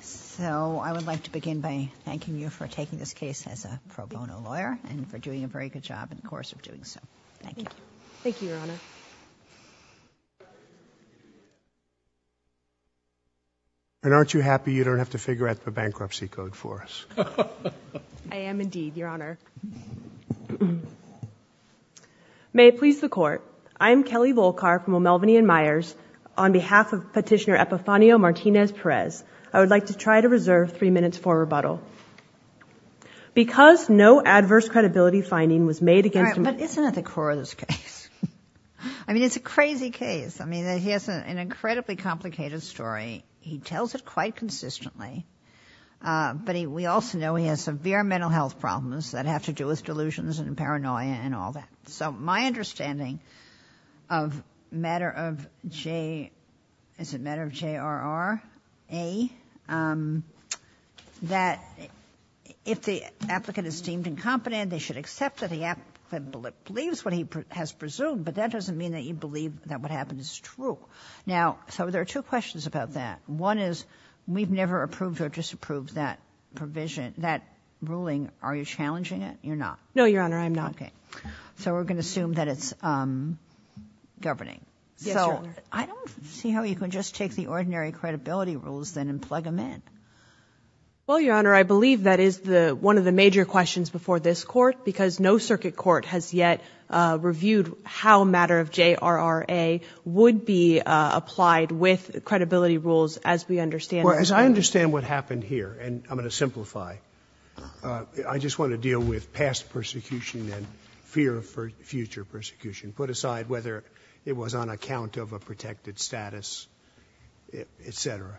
So, I would like to begin by thanking you for taking this case as a pro bono lawyer and for doing a very good job in the course of doing so. Thank you. Thank you, Your Honor. And aren't you happy you don't have to figure out the bankruptcy code for us? I am indeed, Your Honor. May it please the Court, I am Kelly Volkar from O'Melveny & Myers. On behalf of Petitioner Epifanio Martinez Perez, I would like to try to reserve three minutes for rebuttal. Because no adverse credibility finding was made against him— All right, but isn't that the core of this case? I mean, it's a crazy case. I mean, he has an incredibly complicated story. He tells it quite consistently, but we also know he has severe mental health problems that have to do with delusions and paranoia and all that. So my understanding of matter of J—is it matter of J-R-R-A, that if the applicant is deemed incompetent, they should accept that the applicant believes what he has presumed, but that doesn't mean that you believe that what happened is true. Now, so there are two questions about that. One is, we've never approved or disapproved that provision, that ruling. Are you challenging it? You're not. No, Your Honor, I'm not. Okay. So we're going to assume that it's governing. Yes, Your Honor. So I don't see how you can just take the ordinary credibility rules, then, and plug them in. Well, Your Honor, I believe that is one of the major questions before this Court, because no circuit court has yet reviewed how matter of J-R-R-A would be applied with credibility rules as we understand— Well, as I understand what happened here, and I'm going to simplify, I just want to put aside fear for future persecution, put aside whether it was on account of a protected status, et cetera.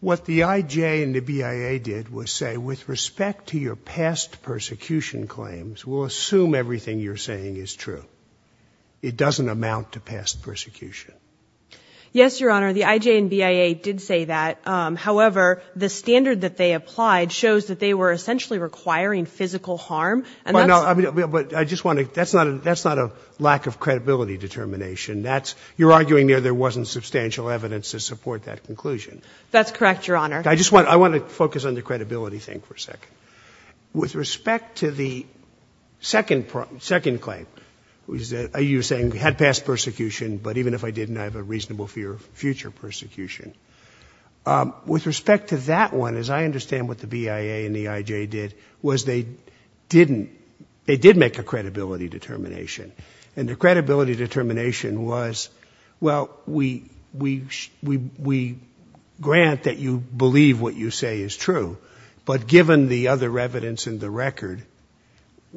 What the I-J and the BIA did was say, with respect to your past persecution claims, we'll assume everything you're saying is true. It doesn't amount to past persecution. Yes, Your Honor, the I-J and BIA did say that. However, the standard that they applied shows that they were essentially requiring physical harm, and that's— Well, I mean, but I just want to—that's not a lack of credibility determination. That's—you're arguing there wasn't substantial evidence to support that conclusion. That's correct, Your Honor. I just want—I want to focus on the credibility thing for a second. With respect to the second claim, which is that you're saying we had past persecution, but even if I didn't, I have a reasonable fear of future persecution. With respect to that one, as I understand what the BIA and the I-J did, was they didn't—they did make a credibility determination. And the credibility determination was, well, we—we grant that you believe what you say is true, but given the other evidence in the record,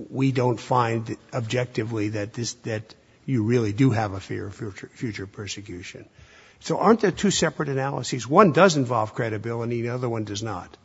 we don't find objectively that this—that you really do have a fear of future persecution. So aren't there two separate analyses? One does involve credibility, the other one does not.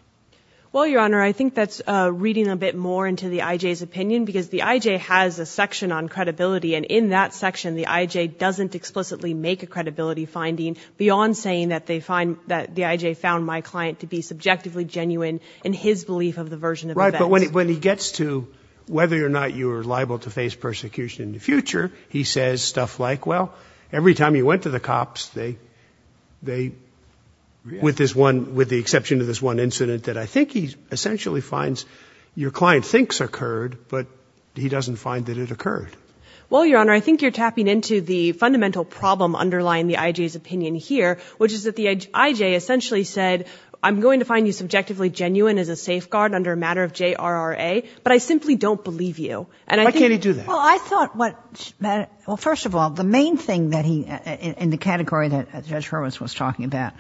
Well, Your Honor, I think that's reading a bit more into the I-J's opinion because the I-J has a section on credibility, and in that section, the I-J doesn't explicitly make a credibility finding beyond saying that they find—that the I-J found my client to be subjectively genuine in his belief of the version of events. Right, but when he gets to whether or not you are liable to face persecution in the I-J's opinion here, which is that the I-J essentially said, I'm going to find you subjectively genuine as a safeguard under a matter of J-R-R-A, but I simply don't believe you. And I think— Why can't he do that? Well, I thought what—well, first of all, the main thing that he—in the category that Judge Hurwitz was talking about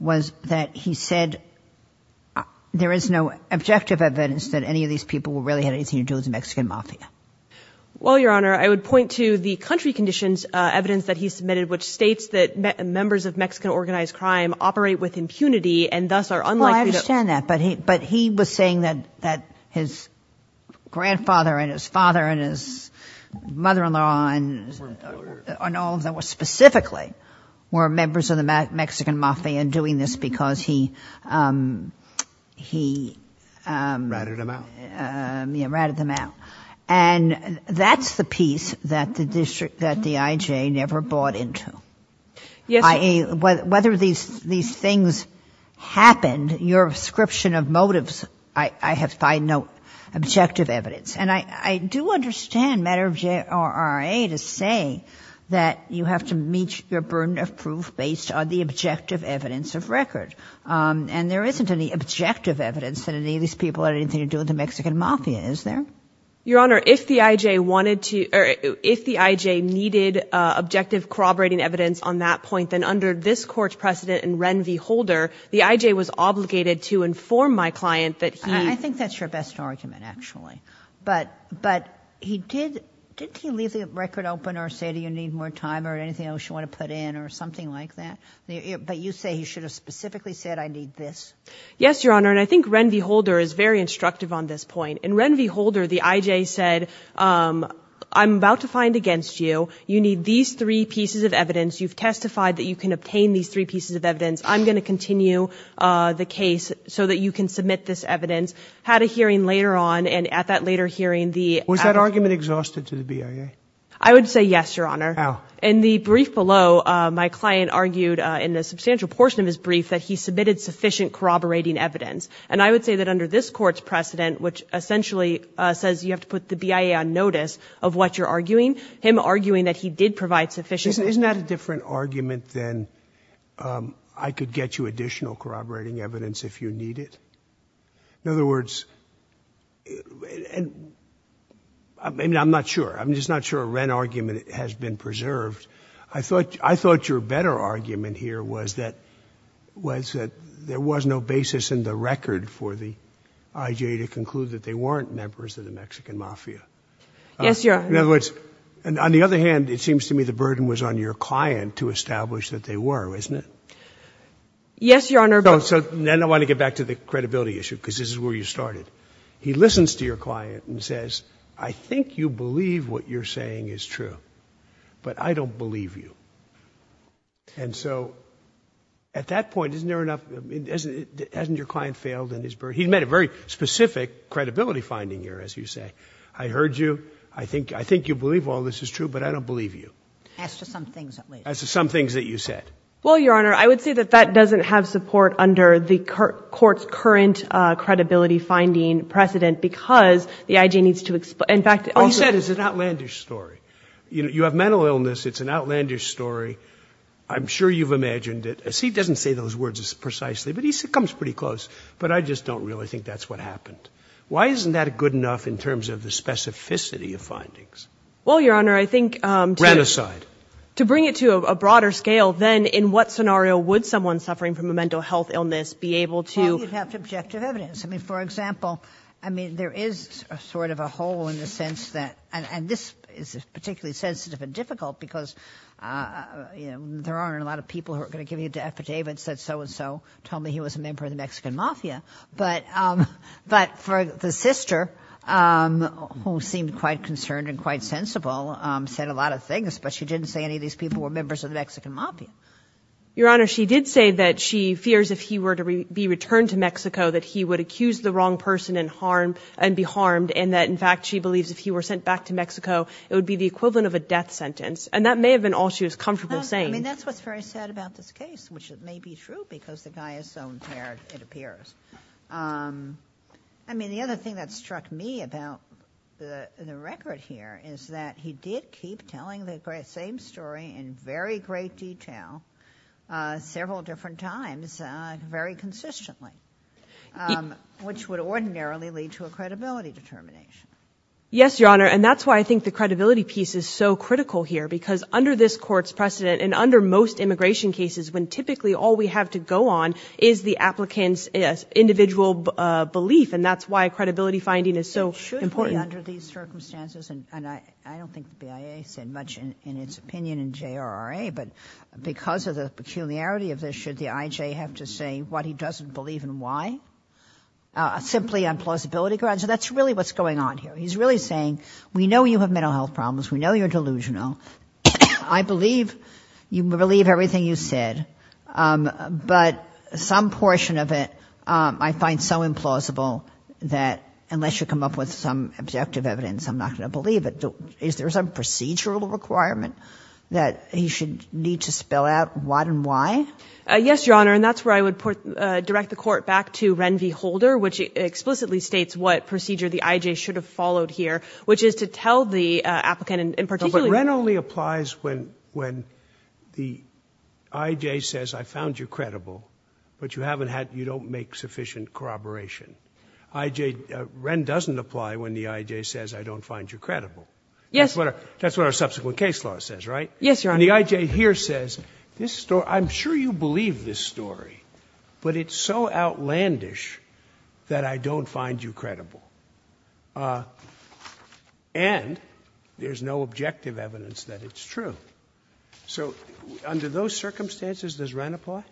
was that he said there is no objective evidence that any of these people really had anything to do with the Mexican mafia. Well, Your Honor, I would point to the country conditions evidence that he submitted, which states that members of Mexican organized crime operate with impunity and thus are unlikely to— Mother-in-law and all of them were specifically—were members of the Mexican mafia and doing this because he— Ratted them out. Yes, ratted them out. And that's the piece that the district—that the I-J never bought into. Yes, Your Honor. Whether these things happened, your description of motives, I have—I note objective evidence. And I do understand matter of J-R-R-A to say that you have to meet your burden of proof based on the objective evidence of record. And there isn't any objective evidence that any of these people had anything to do with the Mexican mafia, is there? Your Honor, if the I-J wanted to—or if the I-J needed objective corroborating evidence on that point, then under this Court's precedent in Ren v. Holder, the I-J was obligated to inform my client that he— I think that's your best argument, actually. But he did—didn't he leave the record open or say, do you need more time or anything else you want to put in or something like that? But you say he should have specifically said, I need this. Yes, Your Honor. And I think Ren v. Holder is very instructive on this point. In Ren v. Holder, the I-J said, I'm about to find against you, you need these three pieces of evidence, you've testified that you can obtain these three pieces of evidence, I'm going to continue the case so that you can submit this evidence. Had a hearing later on, and at that later hearing, the— Was that argument exhausted to the BIA? I would say yes, Your Honor. How? In the brief below, my client argued in a substantial portion of his brief that he submitted sufficient corroborating evidence. And I would say that under this Court's precedent, which essentially says you have to put the BIA on notice of what you're arguing, him arguing that he did provide sufficient— Isn't that a different argument than I could get you additional corroborating evidence if you need it? In other words, and I'm not sure, I'm just not sure a Ren argument has been preserved. I thought your better argument here was that there was no basis in the record for the I-J to conclude that they weren't members of the Mexican mafia. Yes, Your Honor. In other words, and on the other hand, it seems to me the burden was on your client to establish that they were, isn't it? Yes, Your Honor. No, so then I want to get back to the credibility issue, because this is where you started. He listens to your client and says, I think you believe what you're saying is true, but I don't believe you. And so at that point, isn't there enough—hasn't your client failed in his—he made a very specific credibility finding here, as you say. I heard you. I think you believe all this is true, but I don't believe you. As to some things, at least. As to some things that you said. Well, Your Honor, I would say that that doesn't have support under the court's current credibility finding precedent, because the I-J needs to—in fact— All you said is an outlandish story. You have mental illness. It's an outlandish story. I'm sure you've imagined it. See, he doesn't say those words precisely, but he comes pretty close. But I just don't really think that's what happened. Why isn't that good enough in terms of the specificity of findings? Well, Your Honor, I think— Ran aside. To bring it to a broader scale, then, in what scenario would someone suffering from a mental health illness be able to— Well, you'd have to object to evidence. I mean, for example, I mean, there is sort of a hole in the sense that—and this is particularly sensitive and difficult because, you know, there aren't a lot of people who are going to give you the affidavits that so-and-so told me he was a member of the Mexican Mafia. For the sister, who seemed quite concerned and quite sensible, said a lot of things, but she didn't say any of these people were members of the Mexican Mafia. Your Honor, she did say that she fears if he were to be returned to Mexico that he would accuse the wrong person and be harmed, and that, in fact, she believes if he were sent back to Mexico, it would be the equivalent of a death sentence. And that may have been all she was comfortable saying. I mean, that's what's very sad about this case, which may be true because the guy is so impaired, it appears. I mean, the other thing that struck me about the record here is that he did keep telling the same story in very great detail several different times, very consistently, which would ordinarily lead to a credibility determination. Yes, Your Honor, and that's why I think the credibility piece is so critical here, because under this Court's precedent and under most immigration cases, when typically all we have to go on is the applicant's individual belief, and that's why credibility finding is so important. It should be under these circumstances, and I don't think the BIA said much in its opinion in JRRA, but because of the peculiarity of this, should the IJ have to say what he doesn't believe and why, simply on plausibility grounds? So that's really what's going on here. He's really saying, we know you have mental health problems, we know you're delusional, I believe you believe everything you said, but some portion of it I find so implausible that unless you come up with some objective evidence, I'm not going to believe it. Is there some procedural requirement that he should need to spell out what and why? Yes, Your Honor, and that's where I would direct the Court back to Ren V. Holder, which explicitly states what procedure the IJ should have followed here, which is to tell the applicant But Ren only applies when the IJ says, I found you credible, but you don't make sufficient corroboration. Ren doesn't apply when the IJ says, I don't find you credible. That's what our subsequent case law says, right? Yes, Your Honor. And the IJ here says, I'm sure you believe this story, but it's so outlandish that I don't find you credible. And there's no objective evidence that it's true. So under those circumstances, does Ren apply?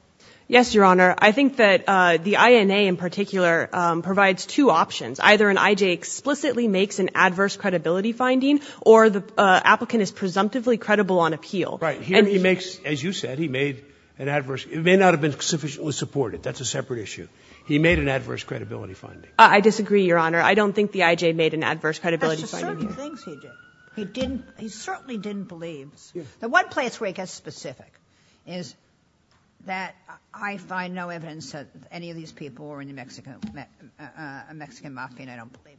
Yes, Your Honor. I think that the INA in particular provides two options. Either an IJ explicitly makes an adverse credibility finding or the applicant is presumptively credible on appeal. Right. Here he makes, as you said, he made an adverse, it may not have been sufficiently supported. That's a separate issue. He made an adverse credibility finding. I disagree, Your Honor. I don't think the IJ made an adverse credibility finding. That's just certain things he did. He certainly didn't believe. The one place where he gets specific is that I find no evidence that any of these people were a Mexican Mafia and I don't believe it.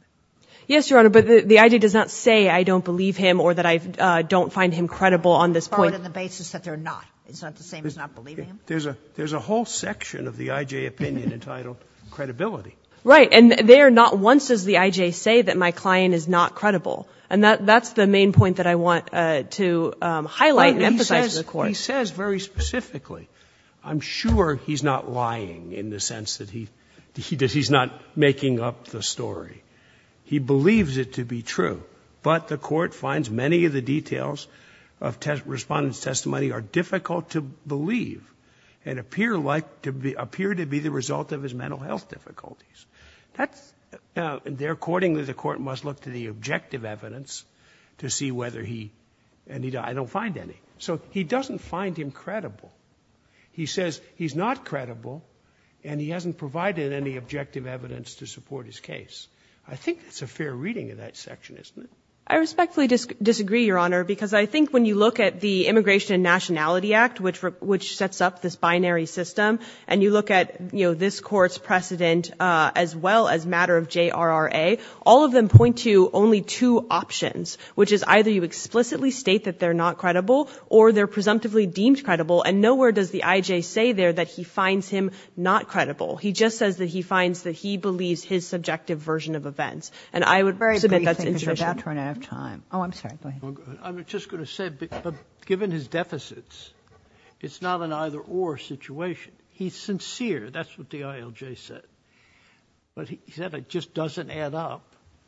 Yes, Your Honor, but the IJ does not say I don't believe him or that I don't find him credible on this point. On the basis that they're not. It's not the same as not believing him? There's a whole section of the IJ opinion entitled credibility. Right. And there, not once does the IJ say that my client is not credible. And that's the main point that I want to highlight and emphasize to the Court. He says very specifically. I'm sure he's not lying in the sense that he's not making up the story. He believes it to be true. But the Court finds many of the details of Respondent's testimony are difficult to believe and appear like to be, appear to be the result of his mental health difficulties. That's, there accordingly, the Court must look to the objective evidence to see whether he, and he, I don't find any. So he doesn't find him credible. He says he's not credible and he hasn't provided any objective evidence to support his case. I think it's a fair reading of that section, isn't it? I respectfully disagree, Your Honor, because I think when you look at the Immigration and Nationality Act, which sets up this binary system, and you look at, you know, this Court's precedent as well as matter of JRRA, all of them point to only two options, which is either you explicitly state that they're not credible or they're presumptively deemed credible. And nowhere does the IJ say there that he finds him not credible. He just says that he finds that he believes his subjective version of events. And I would submit that's insufficient. Very briefly. Oh, I'm sorry. Go ahead. I'm just going to say, given his deficits, it's not an either or situation. He's sincere. That's what the ILJ said. But he said it just doesn't add up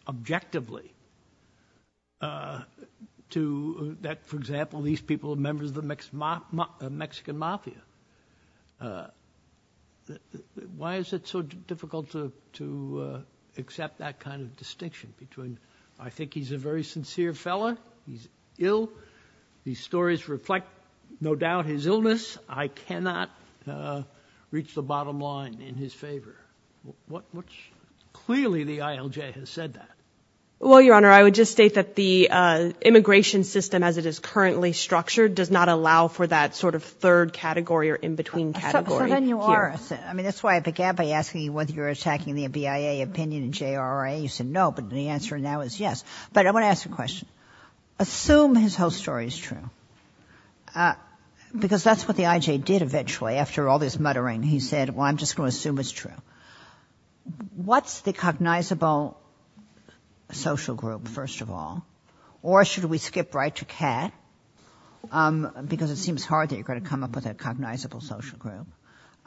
objectively to that, for example, these people are members of the Mexican mafia. Why is it so difficult to accept that kind of distinction between, I think he's a very He's ill. These stories reflect, no doubt, his illness. I cannot reach the bottom line in his favor, which clearly the ILJ has said that. Well, Your Honor, I would just state that the immigration system as it is currently structured does not allow for that sort of third category or in-between category. So then you are, I mean, that's why I began by asking you whether you're attacking the BIA opinion in JRRA. You said no, but the answer now is yes. But I want to ask a question. Assume his whole story is true, because that's what the IJ did eventually. After all this muttering, he said, well, I'm just going to assume it's true. What's the cognizable social group, first of all? Or should we skip right to Kat? Because it seems hard that you're going to come up with a cognizable social group.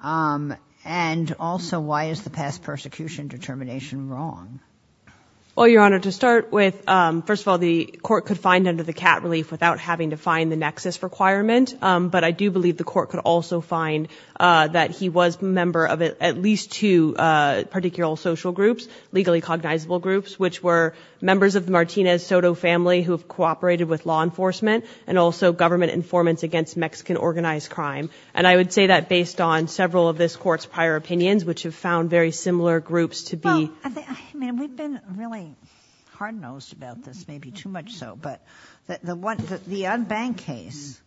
And also, why is the past persecution determination wrong? Well, Your Honor, to start with, first of all, the court could find under the Kat relief without having to find the nexus requirement. But I do believe the court could also find that he was a member of at least two particular social groups, legally cognizable groups, which were members of the Martinez Soto family who have cooperated with law enforcement and also government informants against Mexican organized crime. And I would say that based on several of this court's prior opinions, which have found very similar groups to be. I mean, we've been really hard-nosed about this, maybe too much so. But the unbanked case,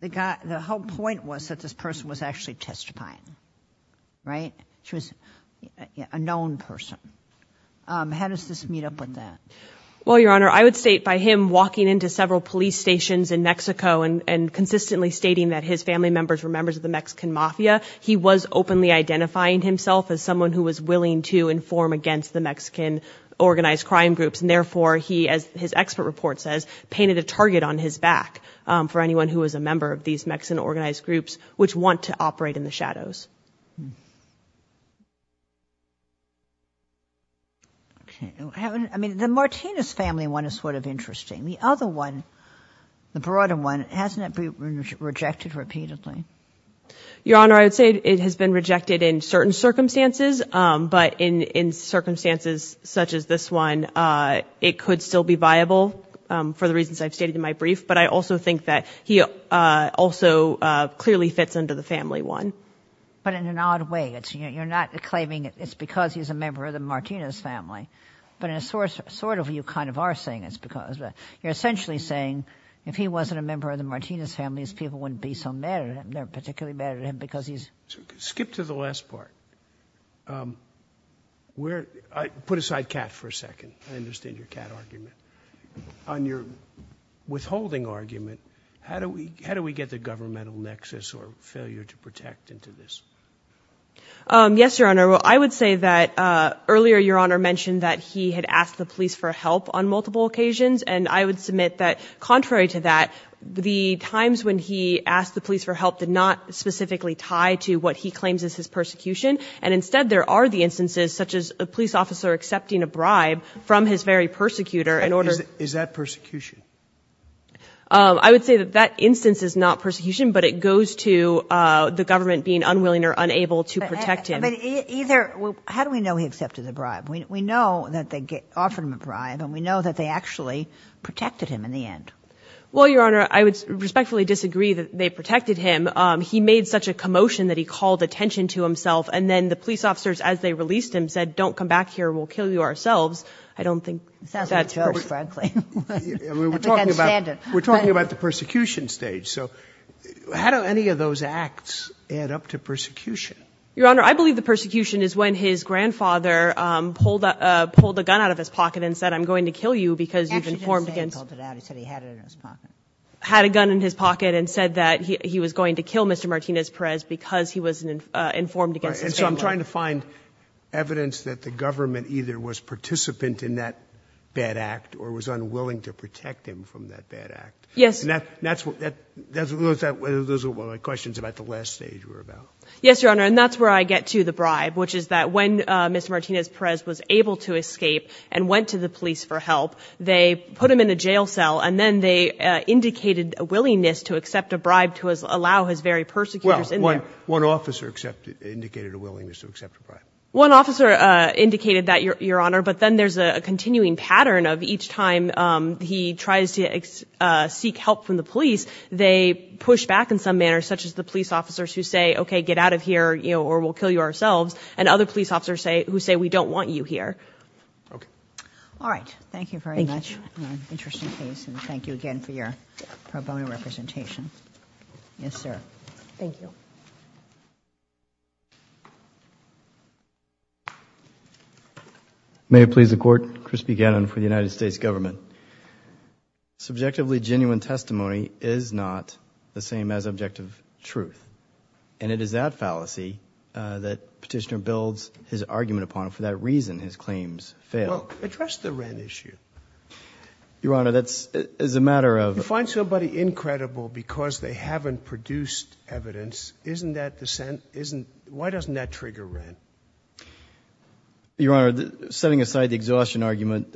the whole point was that this person was actually testifying, right? She was a known person. How does this meet up with that? Well, Your Honor, I would state by him walking into several police stations in Mexico and consistently stating that his family members were members of the Mexican mafia, he was openly identifying himself as someone who was willing to inform against the Mexican organized crime groups. And therefore, he, as his expert report says, painted a target on his back for anyone who was a member of these Mexican organized groups, which want to operate in the shadows. I mean, the Martinez family one is sort of interesting. The other one, the broader one, hasn't it been rejected repeatedly? Your Honor, I would say it has been rejected in certain circumstances, but in circumstances such as this one, it could still be viable for the reasons I've stated in my brief. But I also think that he also clearly fits under the family one. But in an odd way, you're not claiming it's because he's a member of the Martinez family, but in a sort of you kind of are saying it's because. You're essentially saying if he wasn't a member of the Martinez family, his people wouldn't be so mad at him. They're particularly mad at him because he's. Skip to the last part. Put aside cat for a second. I understand your cat argument. On your withholding argument, how do we get the governmental nexus or failure to protect into this? Yes, Your Honor. Well, I would say that earlier, Your Honor mentioned that he had asked the police for help on multiple occasions. And I would submit that contrary to that, the times when he asked the police for help did not specifically tie to what he claims is his persecution. And instead, there are the instances such as a police officer accepting a bribe from his very persecutor in order. Is that persecution? I would say that that instance is not persecution, but it goes to the government being unwilling or unable to protect him. Either. How do we know he accepted the bribe? We know that they offered him a bribe and we know that they actually protected him in the end. Well, Your Honor, I would respectfully disagree that they protected him. He made such a commotion that he called attention to himself. And then the police officers, as they released him, said, don't come back here, we'll kill you ourselves. I don't think that's very frankly, we're talking about we're talking about the persecution stage. So how do any of those acts add up to persecution? Your Honor, I believe the persecution is when his grandfather pulled a gun out of his pocket and said, I'm going to kill you because you've informed against. Had a gun in his pocket and said that he was going to kill Mr. Martinez-Perez because he was informed. And so I'm trying to find evidence that the government either was participant in that bad act or was unwilling to protect him from that bad act. Yes. And that's what those are my questions about the last stage we're about. Yes, Your Honor. And that's where I get to the bribe, which is that when Mr. Martinez-Perez was able to escape and went to the police for help, they put him in a jail cell and then they indicated a willingness to accept a bribe to allow his very persecutors in there. One officer indicated a willingness to accept a bribe. One officer indicated that, Your Honor. But then there's a continuing pattern of each time he tries to seek help from the police, they push back in some manner, such as the police officers who say, okay, get out of here or we'll kill you ourselves. And other police officers say, who say, we don't want you here. Okay. All right. Thank you very much. Thank you. Interesting case. And thank you again for your pro bono representation. Yes, sir. Thank you. May it please the Court. Chris Buchanan for the United States government. Subjectively genuine testimony is not the same as objective truth. And it is that fallacy that Petitioner builds his argument upon, for that reason his claims fail. Well, address the rent issue. Your Honor, that's, as a matter of- You find somebody incredible because they haven't produced evidence. Isn't that dissent, isn't, why doesn't that trigger rent? Your Honor, setting aside the exhaustion argument-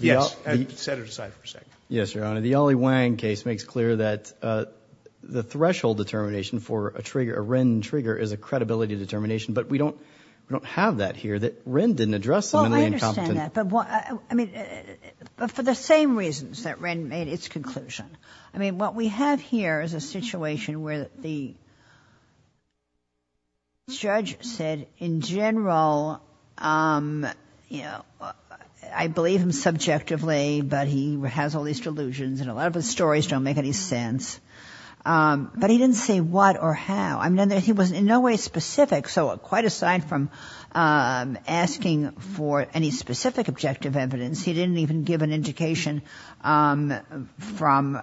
Yes. Set it aside for a second. Yes, Your Honor. The Ollie Wang case makes clear that the threshold determination for a trigger, a rent trigger is a credibility determination. But we don't have that here, that rent didn't address the- Well, I understand that. But what, I mean, for the same reasons that rent made its conclusion. I mean, what we have here is a situation where the judge said, in general, I believe him objectively, but he has all these delusions, and a lot of his stories don't make any sense. But he didn't say what or how, I mean, he was in no way specific. So quite aside from asking for any specific objective evidence, he didn't even give an indication from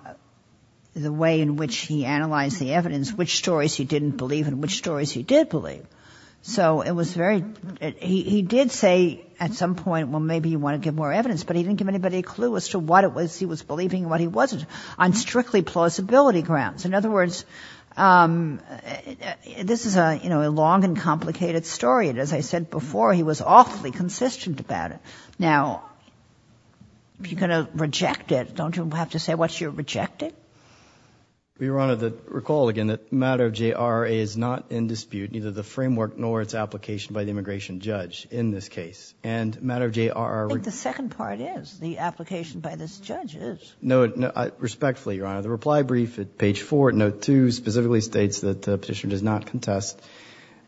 the way in which he analyzed the evidence, which stories he didn't believe and which stories he did believe. So it was very, he did say at some point, well, maybe you want to give more evidence, but he didn't give anybody a clue as to what it was he was believing and what he wasn't, on strictly plausibility grounds. In other words, this is a, you know, a long and complicated story, and as I said before, he was awfully consistent about it. Now if you're going to reject it, don't you have to say what you're rejecting? Your Honor, recall again that matter of J.R.R.A. is not in dispute, neither the framework nor its application by the immigration judge in this case. And matter of J.R.R.R. I think the second part is, the application by this judge is. No, respectfully, Your Honor, the reply brief at page four, note two, specifically states that the petitioner does not contest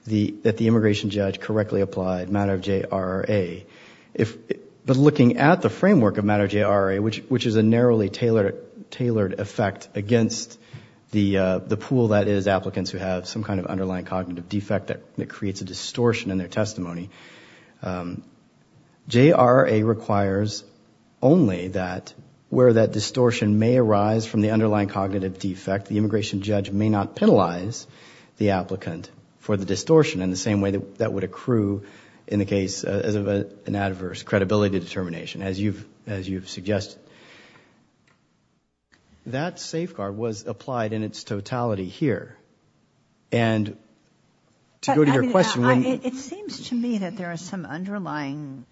that the immigration judge correctly applied matter of J.R.R.A. But looking at the framework of matter of J.R.R.A., which is a narrowly tailored effect against the pool that is applicants who have some kind of underlying cognitive defect that J.R.R.A. requires only that where that distortion may arise from the underlying cognitive defect, the immigration judge may not penalize the applicant for the distortion in the same way that that would accrue in the case of an adverse credibility determination, as you've suggested. That safeguard was applied in its totality here. And to go to your question. It seems to me that there is some underlying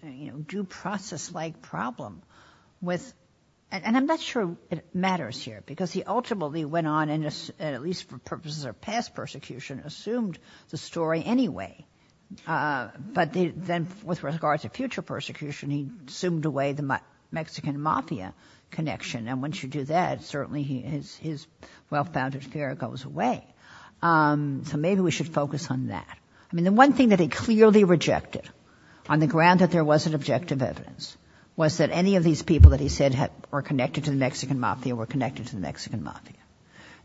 due process like problem with, and I'm not sure it matters here because he ultimately went on and at least for purposes of past persecution assumed the story anyway. But then with regards to future persecution, he assumed away the Mexican mafia connection. And once you do that, certainly his well-founded fear goes away. So maybe we should focus on that. I mean, the one thing that he clearly rejected on the ground that there wasn't objective evidence was that any of these people that he said were connected to the Mexican mafia were connected to the Mexican mafia.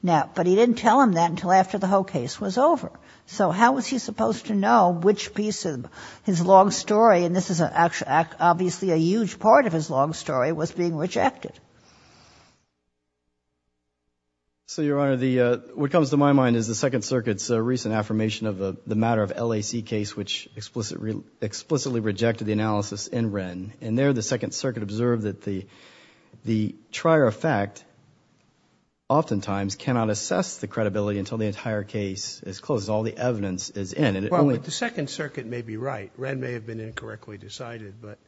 Now, but he didn't tell him that until after the whole case was over. So how was he supposed to know which piece of his long story, and this is obviously a huge part of his long story, was being rejected? So, Your Honor, what comes to my mind is the Second Circuit's recent affirmation of the matter of LAC case, which explicitly rejected the analysis in Wren, and there the Second Circuit observed that the trier of fact oftentimes cannot assess the credibility until the entire case is closed, all the evidence is in. Well, but the Second Circuit may be right. Wren may have been incorrectly decided, but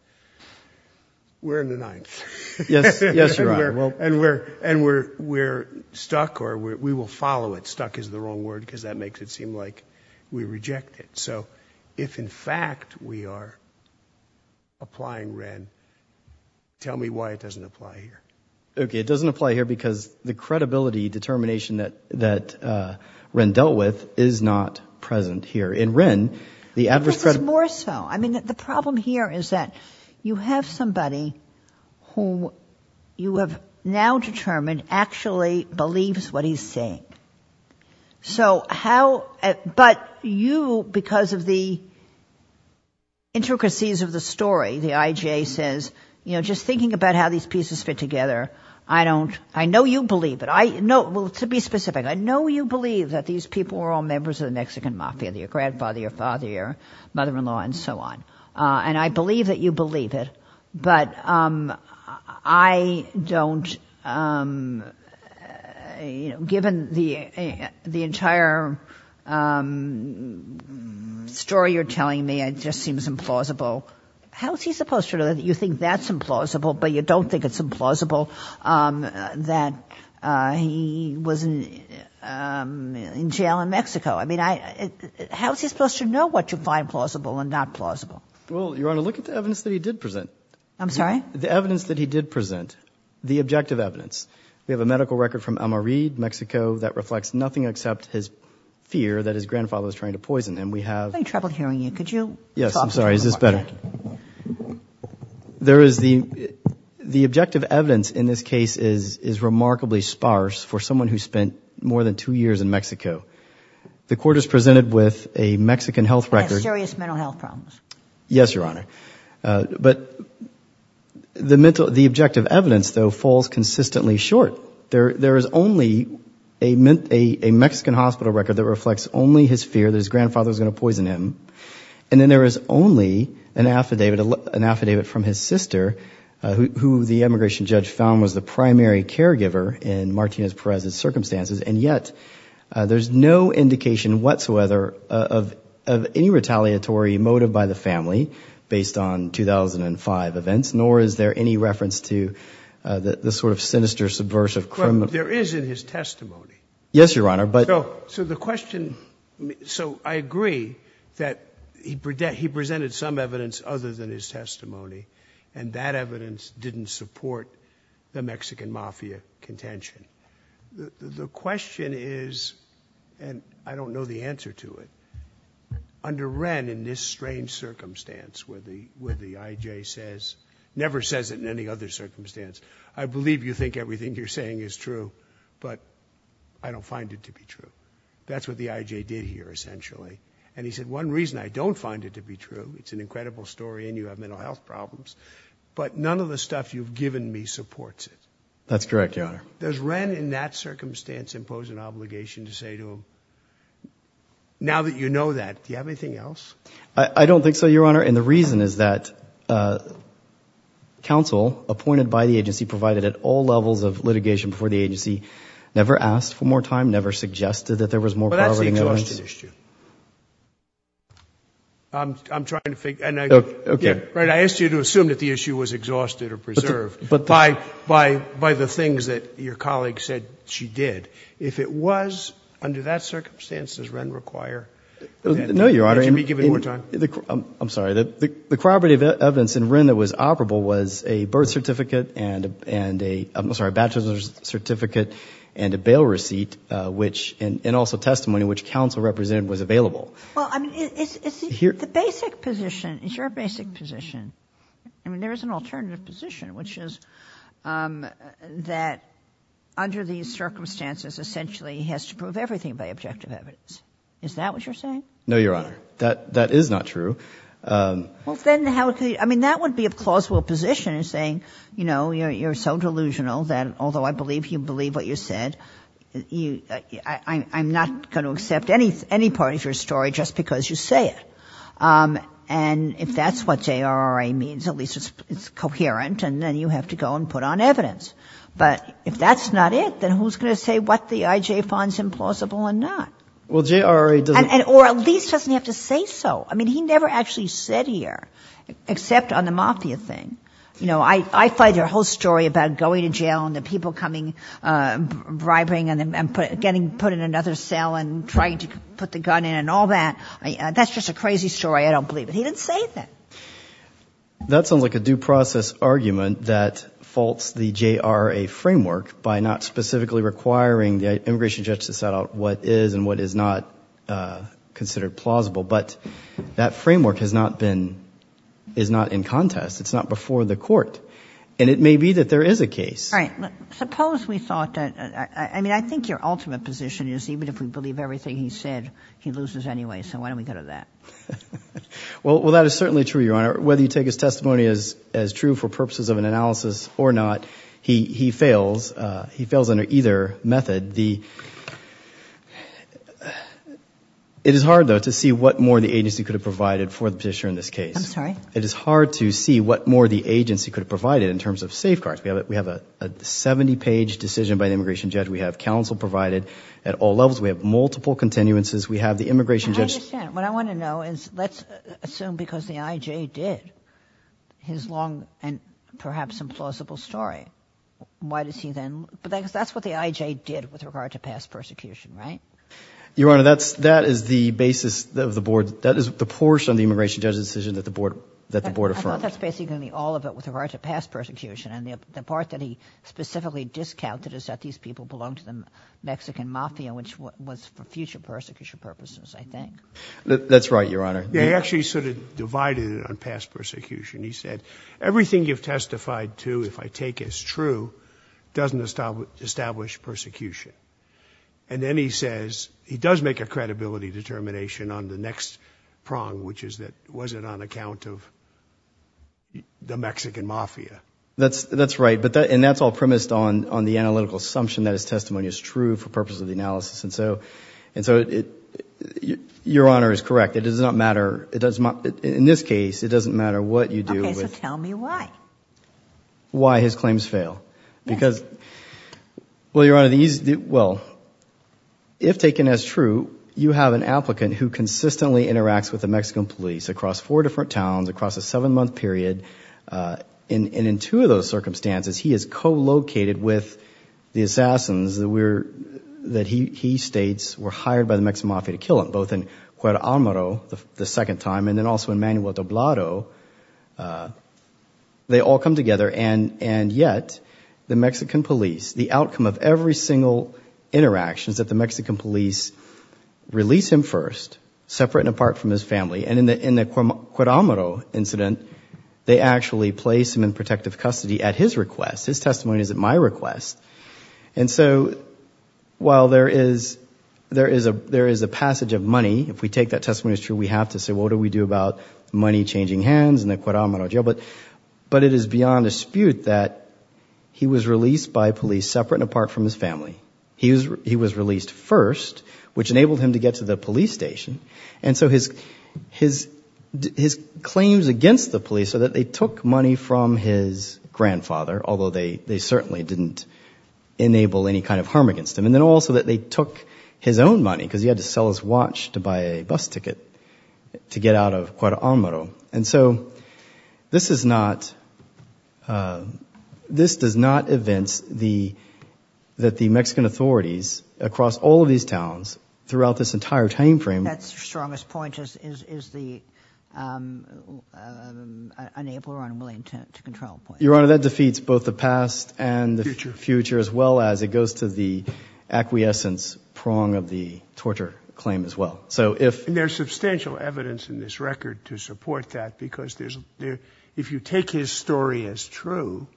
we're in the ninth. Yes. Yes, Your Honor. And we're stuck or we will follow it. Stuck is the wrong word because that makes it seem like we reject it. So if, in fact, we are applying Wren, tell me why it doesn't apply here. Okay. It doesn't apply here because the credibility determination that Wren dealt with is not present here. In Wren, the adverse credibility. This is more so. I mean, the problem here is that you have somebody who you have now determined actually believes what he's saying. So how, but you, because of the intricacies of the story, the IJA says, you know, just thinking about how these pieces fit together, I don't, I know you believe it. I know, well, to be specific, I know you believe that these people are all members of the Mexican Mafia, your grandfather, your father, your mother-in-law, and so on. And I believe that you believe it, but I don't, you know, given the entire story you're telling me, it just seems implausible. How is he supposed to know that you think that's implausible, but you don't think it's implausible that he was in jail in Mexico? I mean, how is he supposed to know what you find plausible and not plausible? Well, Your Honor, look at the evidence that he did present. I'm sorry? The evidence that he did present, the objective evidence. We have a medical record from Almerid, Mexico, that reflects nothing except his fear that his grandfather was trying to poison him. We have— I'm having trouble hearing you. Could you talk— Yes, I'm sorry. Is this better? Thank you. There is the, the objective evidence in this case is remarkably sparse for someone who spent two years in Mexico. The court has presented with a Mexican health record— Mysterious mental health problems. Yes, Your Honor. But the mental, the objective evidence, though, falls consistently short. There is only a Mexican hospital record that reflects only his fear that his grandfather was going to poison him, and then there is only an affidavit, an affidavit from his sister, who the immigration judge found was the primary caregiver in Martinez-Perez's circumstances, and yet, there's no indication whatsoever of, of any retaliatory motive by the family based on 2005 events, nor is there any reference to the, the sort of sinister, subversive— There is in his testimony. Yes, Your Honor, but— So, so the question—so, I agree that he presented some evidence other than his testimony, and that evidence didn't support the Mexican mafia contention. The, the question is, and I don't know the answer to it, under Wren, in this strange circumstance where the, where the IJ says—never says it in any other circumstance—I believe you think everything you're saying is true, but I don't find it to be true. That's what the IJ did here, essentially, and he said, one reason I don't find it to be true, it's an incredible story and you have mental health problems, but none of the stuff you've given me supports it. That's correct, Your Honor. Does Wren, in that circumstance, impose an obligation to say to him, now that you know that, do you have anything else? I don't think so, Your Honor, and the reason is that counsel appointed by the agency provided at all levels of litigation before the agency never asked for more time, never suggested that there was more— But that's the exhaustion issue. I'm trying to figure—and I— Okay. Right. I asked you to assume that the issue was exhausted or preserved by, by, by the things that your colleague said she did. If it was, under that circumstance, does Wren require— No, Your Honor. —that she be given more time? I'm sorry. The corroborative evidence in Wren that was operable was a birth certificate and a, I'm sorry, a bachelor's certificate and a bail receipt, which, and also testimony which counsel represented was available. Well, I mean, it's— Here— But the basic position, is your basic position, I mean, there is an alternative position, which is that under these circumstances, essentially, he has to prove everything by objective evidence. Is that what you're saying? No, Your Honor. That, that is not true. Well, then how could you—I mean, that would be a plausible position in saying, you know, you're so delusional that although I believe you believe what you said, you, I'm not going to accept any, any part of your story just because you say it. And if that's what JRRA means, at least it's, it's coherent, and then you have to go and put on evidence. But if that's not it, then who's going to say what the IJ finds implausible or not? Well, JRRA doesn't— And, and, or at least doesn't have to say so. I mean, he never actually said here, except on the mafia thing, you know, I, I find your whole story about going to jail and the people coming, bribing and, and put, getting put in another cell and trying to put the gun in and all that, I, that's just a crazy story. I don't believe it. He didn't say that. That sounds like a due process argument that faults the JRRA framework by not specifically requiring the immigration judge to set out what is and what is not considered plausible. But that framework has not been, is not in contest. It's not before the court. And it may be that there is a case. All right. I mean, it's, even if we believe everything he said, he loses anyway, so why don't we go to that? Well, well, that is certainly true, Your Honor, whether you take his testimony as, as true for purposes of an analysis or not, he, he fails, he fails under either method. The, it is hard though to see what more the agency could have provided for the petitioner in this case. I'm sorry? It is hard to see what more the agency could have provided in terms of safeguards. We have, we have a, a 70-page decision by the immigration judge. We have counsel provided at all levels. We have multiple continuances. We have the immigration judge. I understand. What I want to know is, let's assume because the IJ did his long and perhaps implausible story, why does he then, because that's what the IJ did with regard to past persecution, right? Your Honor, that's, that is the basis of the board. That is the portion of the immigration judge's decision that the board, that the board affirmed. I thought that's basically all of it with regard to past persecution. And the, the part that he specifically discounted is that these people belong to the Mexican Mafia, which was for future persecution purposes, I think. That's right, Your Honor. They actually sort of divided it on past persecution. He said, everything you've testified to, if I take as true, doesn't establish persecution. And then he says, he does make a credibility determination on the next prong, which is that, was it on account of the Mexican Mafia? That's, that's right. But that, and that's all premised on, on the analytical assumption that his testimony is true for purposes of the analysis. And so, and so it, your Honor is correct. It does not matter. It does not, in this case, it doesn't matter what you do. Okay. So tell me why. Why his claims fail. Because, well, Your Honor, these, well, if taken as true, you have an applicant who consistently interacts with the Mexican police across four different towns, across a seven month period, and in two of those circumstances, he is co-located with the assassins that we're, that he states were hired by the Mexican Mafia to kill him, both in Cuauhtemoc, the second time, and then also in Manuel de Obrado. They all come together and, and yet the Mexican police, the outcome of every single interactions that the Mexican police release him first, separate and apart from his family, and in the Cuauhtemoc incident, they actually place him in protective custody at his request. His testimony is at my request. And so, while there is, there is a, there is a passage of money, if we take that testimony as true, we have to say, what do we do about money changing hands in the Cuauhtemoc jail? But it is beyond dispute that he was released by police separate and apart from his family. He was released first, which enabled him to get to the police station. And so his, his, his claims against the police are that they took money from his grandfather, although they, they certainly didn't enable any kind of harm against him, and then also that they took his own money, because he had to sell his watch to buy a bus ticket to get out of Cuauhtemoc. And so, this is not, this does not evince the, that the Mexican authorities across all these towns, throughout this entire time frame. That's the strongest point, is, is, is the, um, um, unable or unwilling to, to control point. Your Honor, that defeats both the past and the future, as well as it goes to the acquiescence prong of the torture claim as well. So if... And there's substantial evidence in this record to support that, because there's, there, if you take his story as true,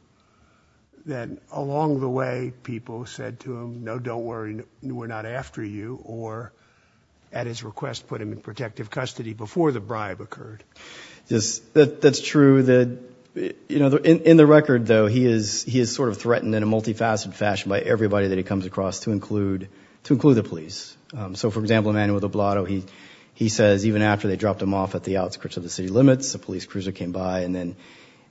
then along the way people said to him, no, don't worry, we're not after you, or, at his request, put him in protective custody before the bribe occurred. Yes, that, that's true, that, you know, in, in the record, though, he is, he is sort of threatened in a multifaceted fashion by everybody that he comes across, to include, to include the police. Um, so for example, Emanuel Del Blato, he, he says, even after they dropped him off at the outskirts of the city limits, a police cruiser came by, and then,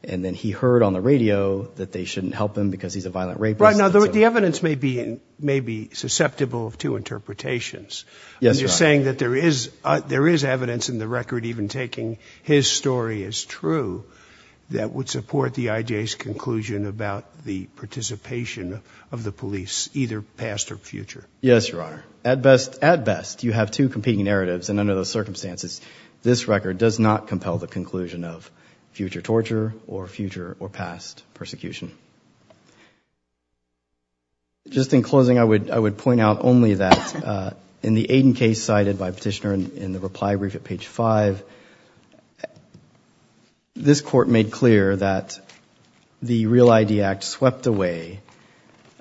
and then he heard on the radio that they shouldn't help him because he's a violent rapist. Right. Now, the evidence may be, may be susceptible of two interpretations. Yes, Your Honor. I'm just saying that there is, there is evidence in the record, even taking his story as true, that would support the I.J.'s conclusion about the participation of the police, either past or future. Yes, Your Honor. At best, at best, you have two competing narratives, and under those circumstances, this record does not compel the conclusion of future torture or future or past persecution. Just in closing, I would, I would point out only that, uh, in the Aiden case cited by Petitioner in, in the reply brief at page five, this Court made clear that the REAL ID Act swept away,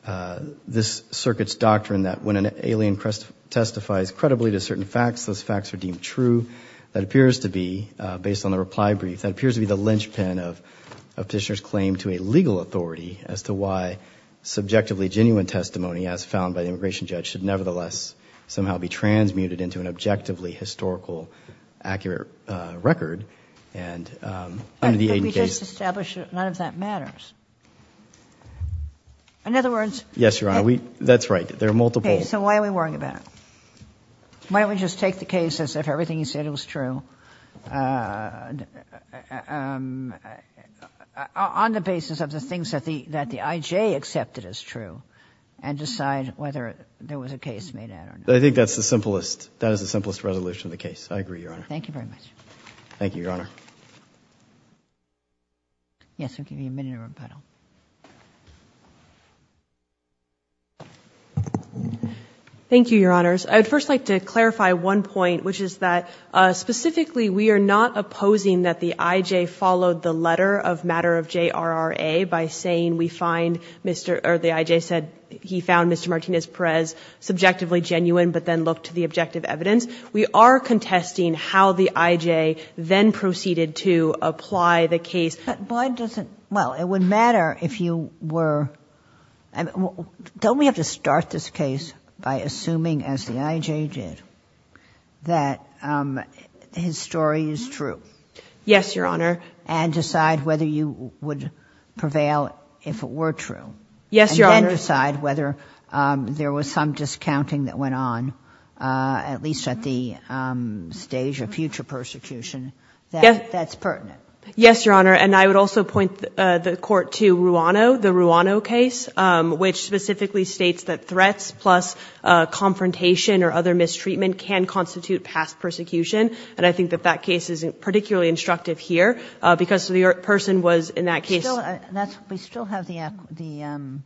uh, this circuit's doctrine that when an alien crest, testifies credibly to certain facts, those facts are deemed true. That appears to be, uh, based on the reply brief, that appears to be the linchpin of, of Petitioner's claim to a legal authority as to why subjectively genuine testimony, as found by the immigration judge, should nevertheless somehow be transmuted into an objectively historical, accurate, uh, record, and, um, under the Aiden case. But we just established that none of that matters. In other words... Yes, Your Honor. We, that's right. There are multiple... Okay. So why are we worrying about it? Why don't we just take the case as if everything he said was true, uh, um, on the basis of the things that the, that the IJ accepted as true, and decide whether there was a case made out or not. I think that's the simplest, that is the simplest resolution of the case. I agree, Your Honor. Thank you very much. Thank you, Your Honor. Yes, we'll give you a minute of rebuttal. Thank you, Your Honors. I would first like to clarify one point, which is that, uh, specifically, we are not opposing that the IJ followed the letter of matter of JRRA by saying we find Mr., or the IJ said he found Mr. Martinez-Perez subjectively genuine, but then looked to the objective evidence. We are contesting how the IJ then proceeded to apply the case. But why doesn't, well, it would matter if you were, don't we have to start this case by assuming, as the IJ did, that, um, his story is true? Yes, Your Honor. And decide whether you would prevail if it were true. Yes, Your Honor. And then decide whether, um, there was some discounting that went on, uh, at least at the, um, stage of future persecution that, that's pertinent. Yes, Your Honor. And I would also point, uh, the court to Ruano, the Ruano case, um, which specifically states that threats plus, uh, confrontation or other mistreatment can constitute past persecution. And I think that that case is particularly instructive here, uh, because the person was in that case. Still, that's, we still have the, the, um,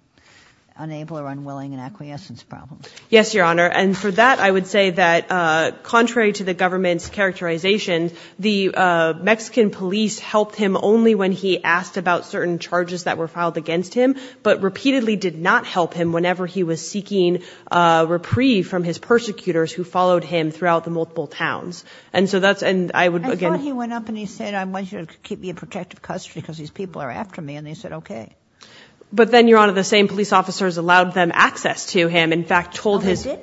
unable or unwilling and acquiescence problems. Yes, Your Honor. And for that, I would say that, uh, contrary to the government's characterization, the, uh, Mexican police helped him only when he asked about certain charges that were filed against him, but repeatedly did not help him whenever he was seeking, uh, reprieve from his persecutors who followed him throughout the multiple towns. And so that's, and I would, again- I thought he went up and he said, I want you to keep me in protective custody because these people are after me. And they said, okay. But then, Your Honor, the same police officers allowed them access to him, in fact, told his- Your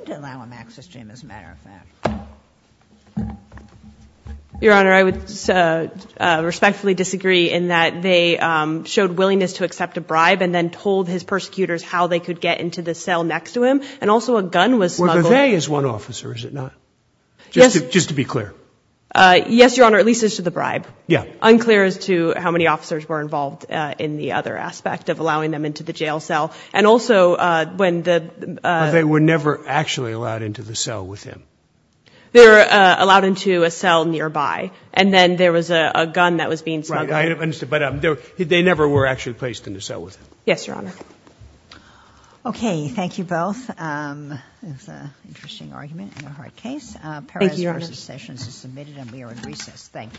Honor, I would, uh, uh, respectfully disagree in that they, um, showed willingness to accept a bribe and then told his persecutors how they could get into the cell next to him. And also a gun was smuggled- Well, the they is one officer, is it not? Just to be clear. Uh, yes, Your Honor. At least as to the bribe. Yeah. Unclear as to how many officers were involved, uh, in the other aspect of allowing them into the jail cell. And also, uh, when the, uh- But they were never actually allowed into the cell with him. They were, uh, allowed into a cell nearby. And then there was a, a gun that was being smuggled. Right. I understand. But, um, they were, they never were actually placed in the cell with him. Yes, Your Honor. Okay. Thank you both. Um, that's an interesting argument and a hard case. Thank you, Your Honor. Uh, paroles versus sessions is submitted and we are in recess. Thank you. Thank you. Thank you.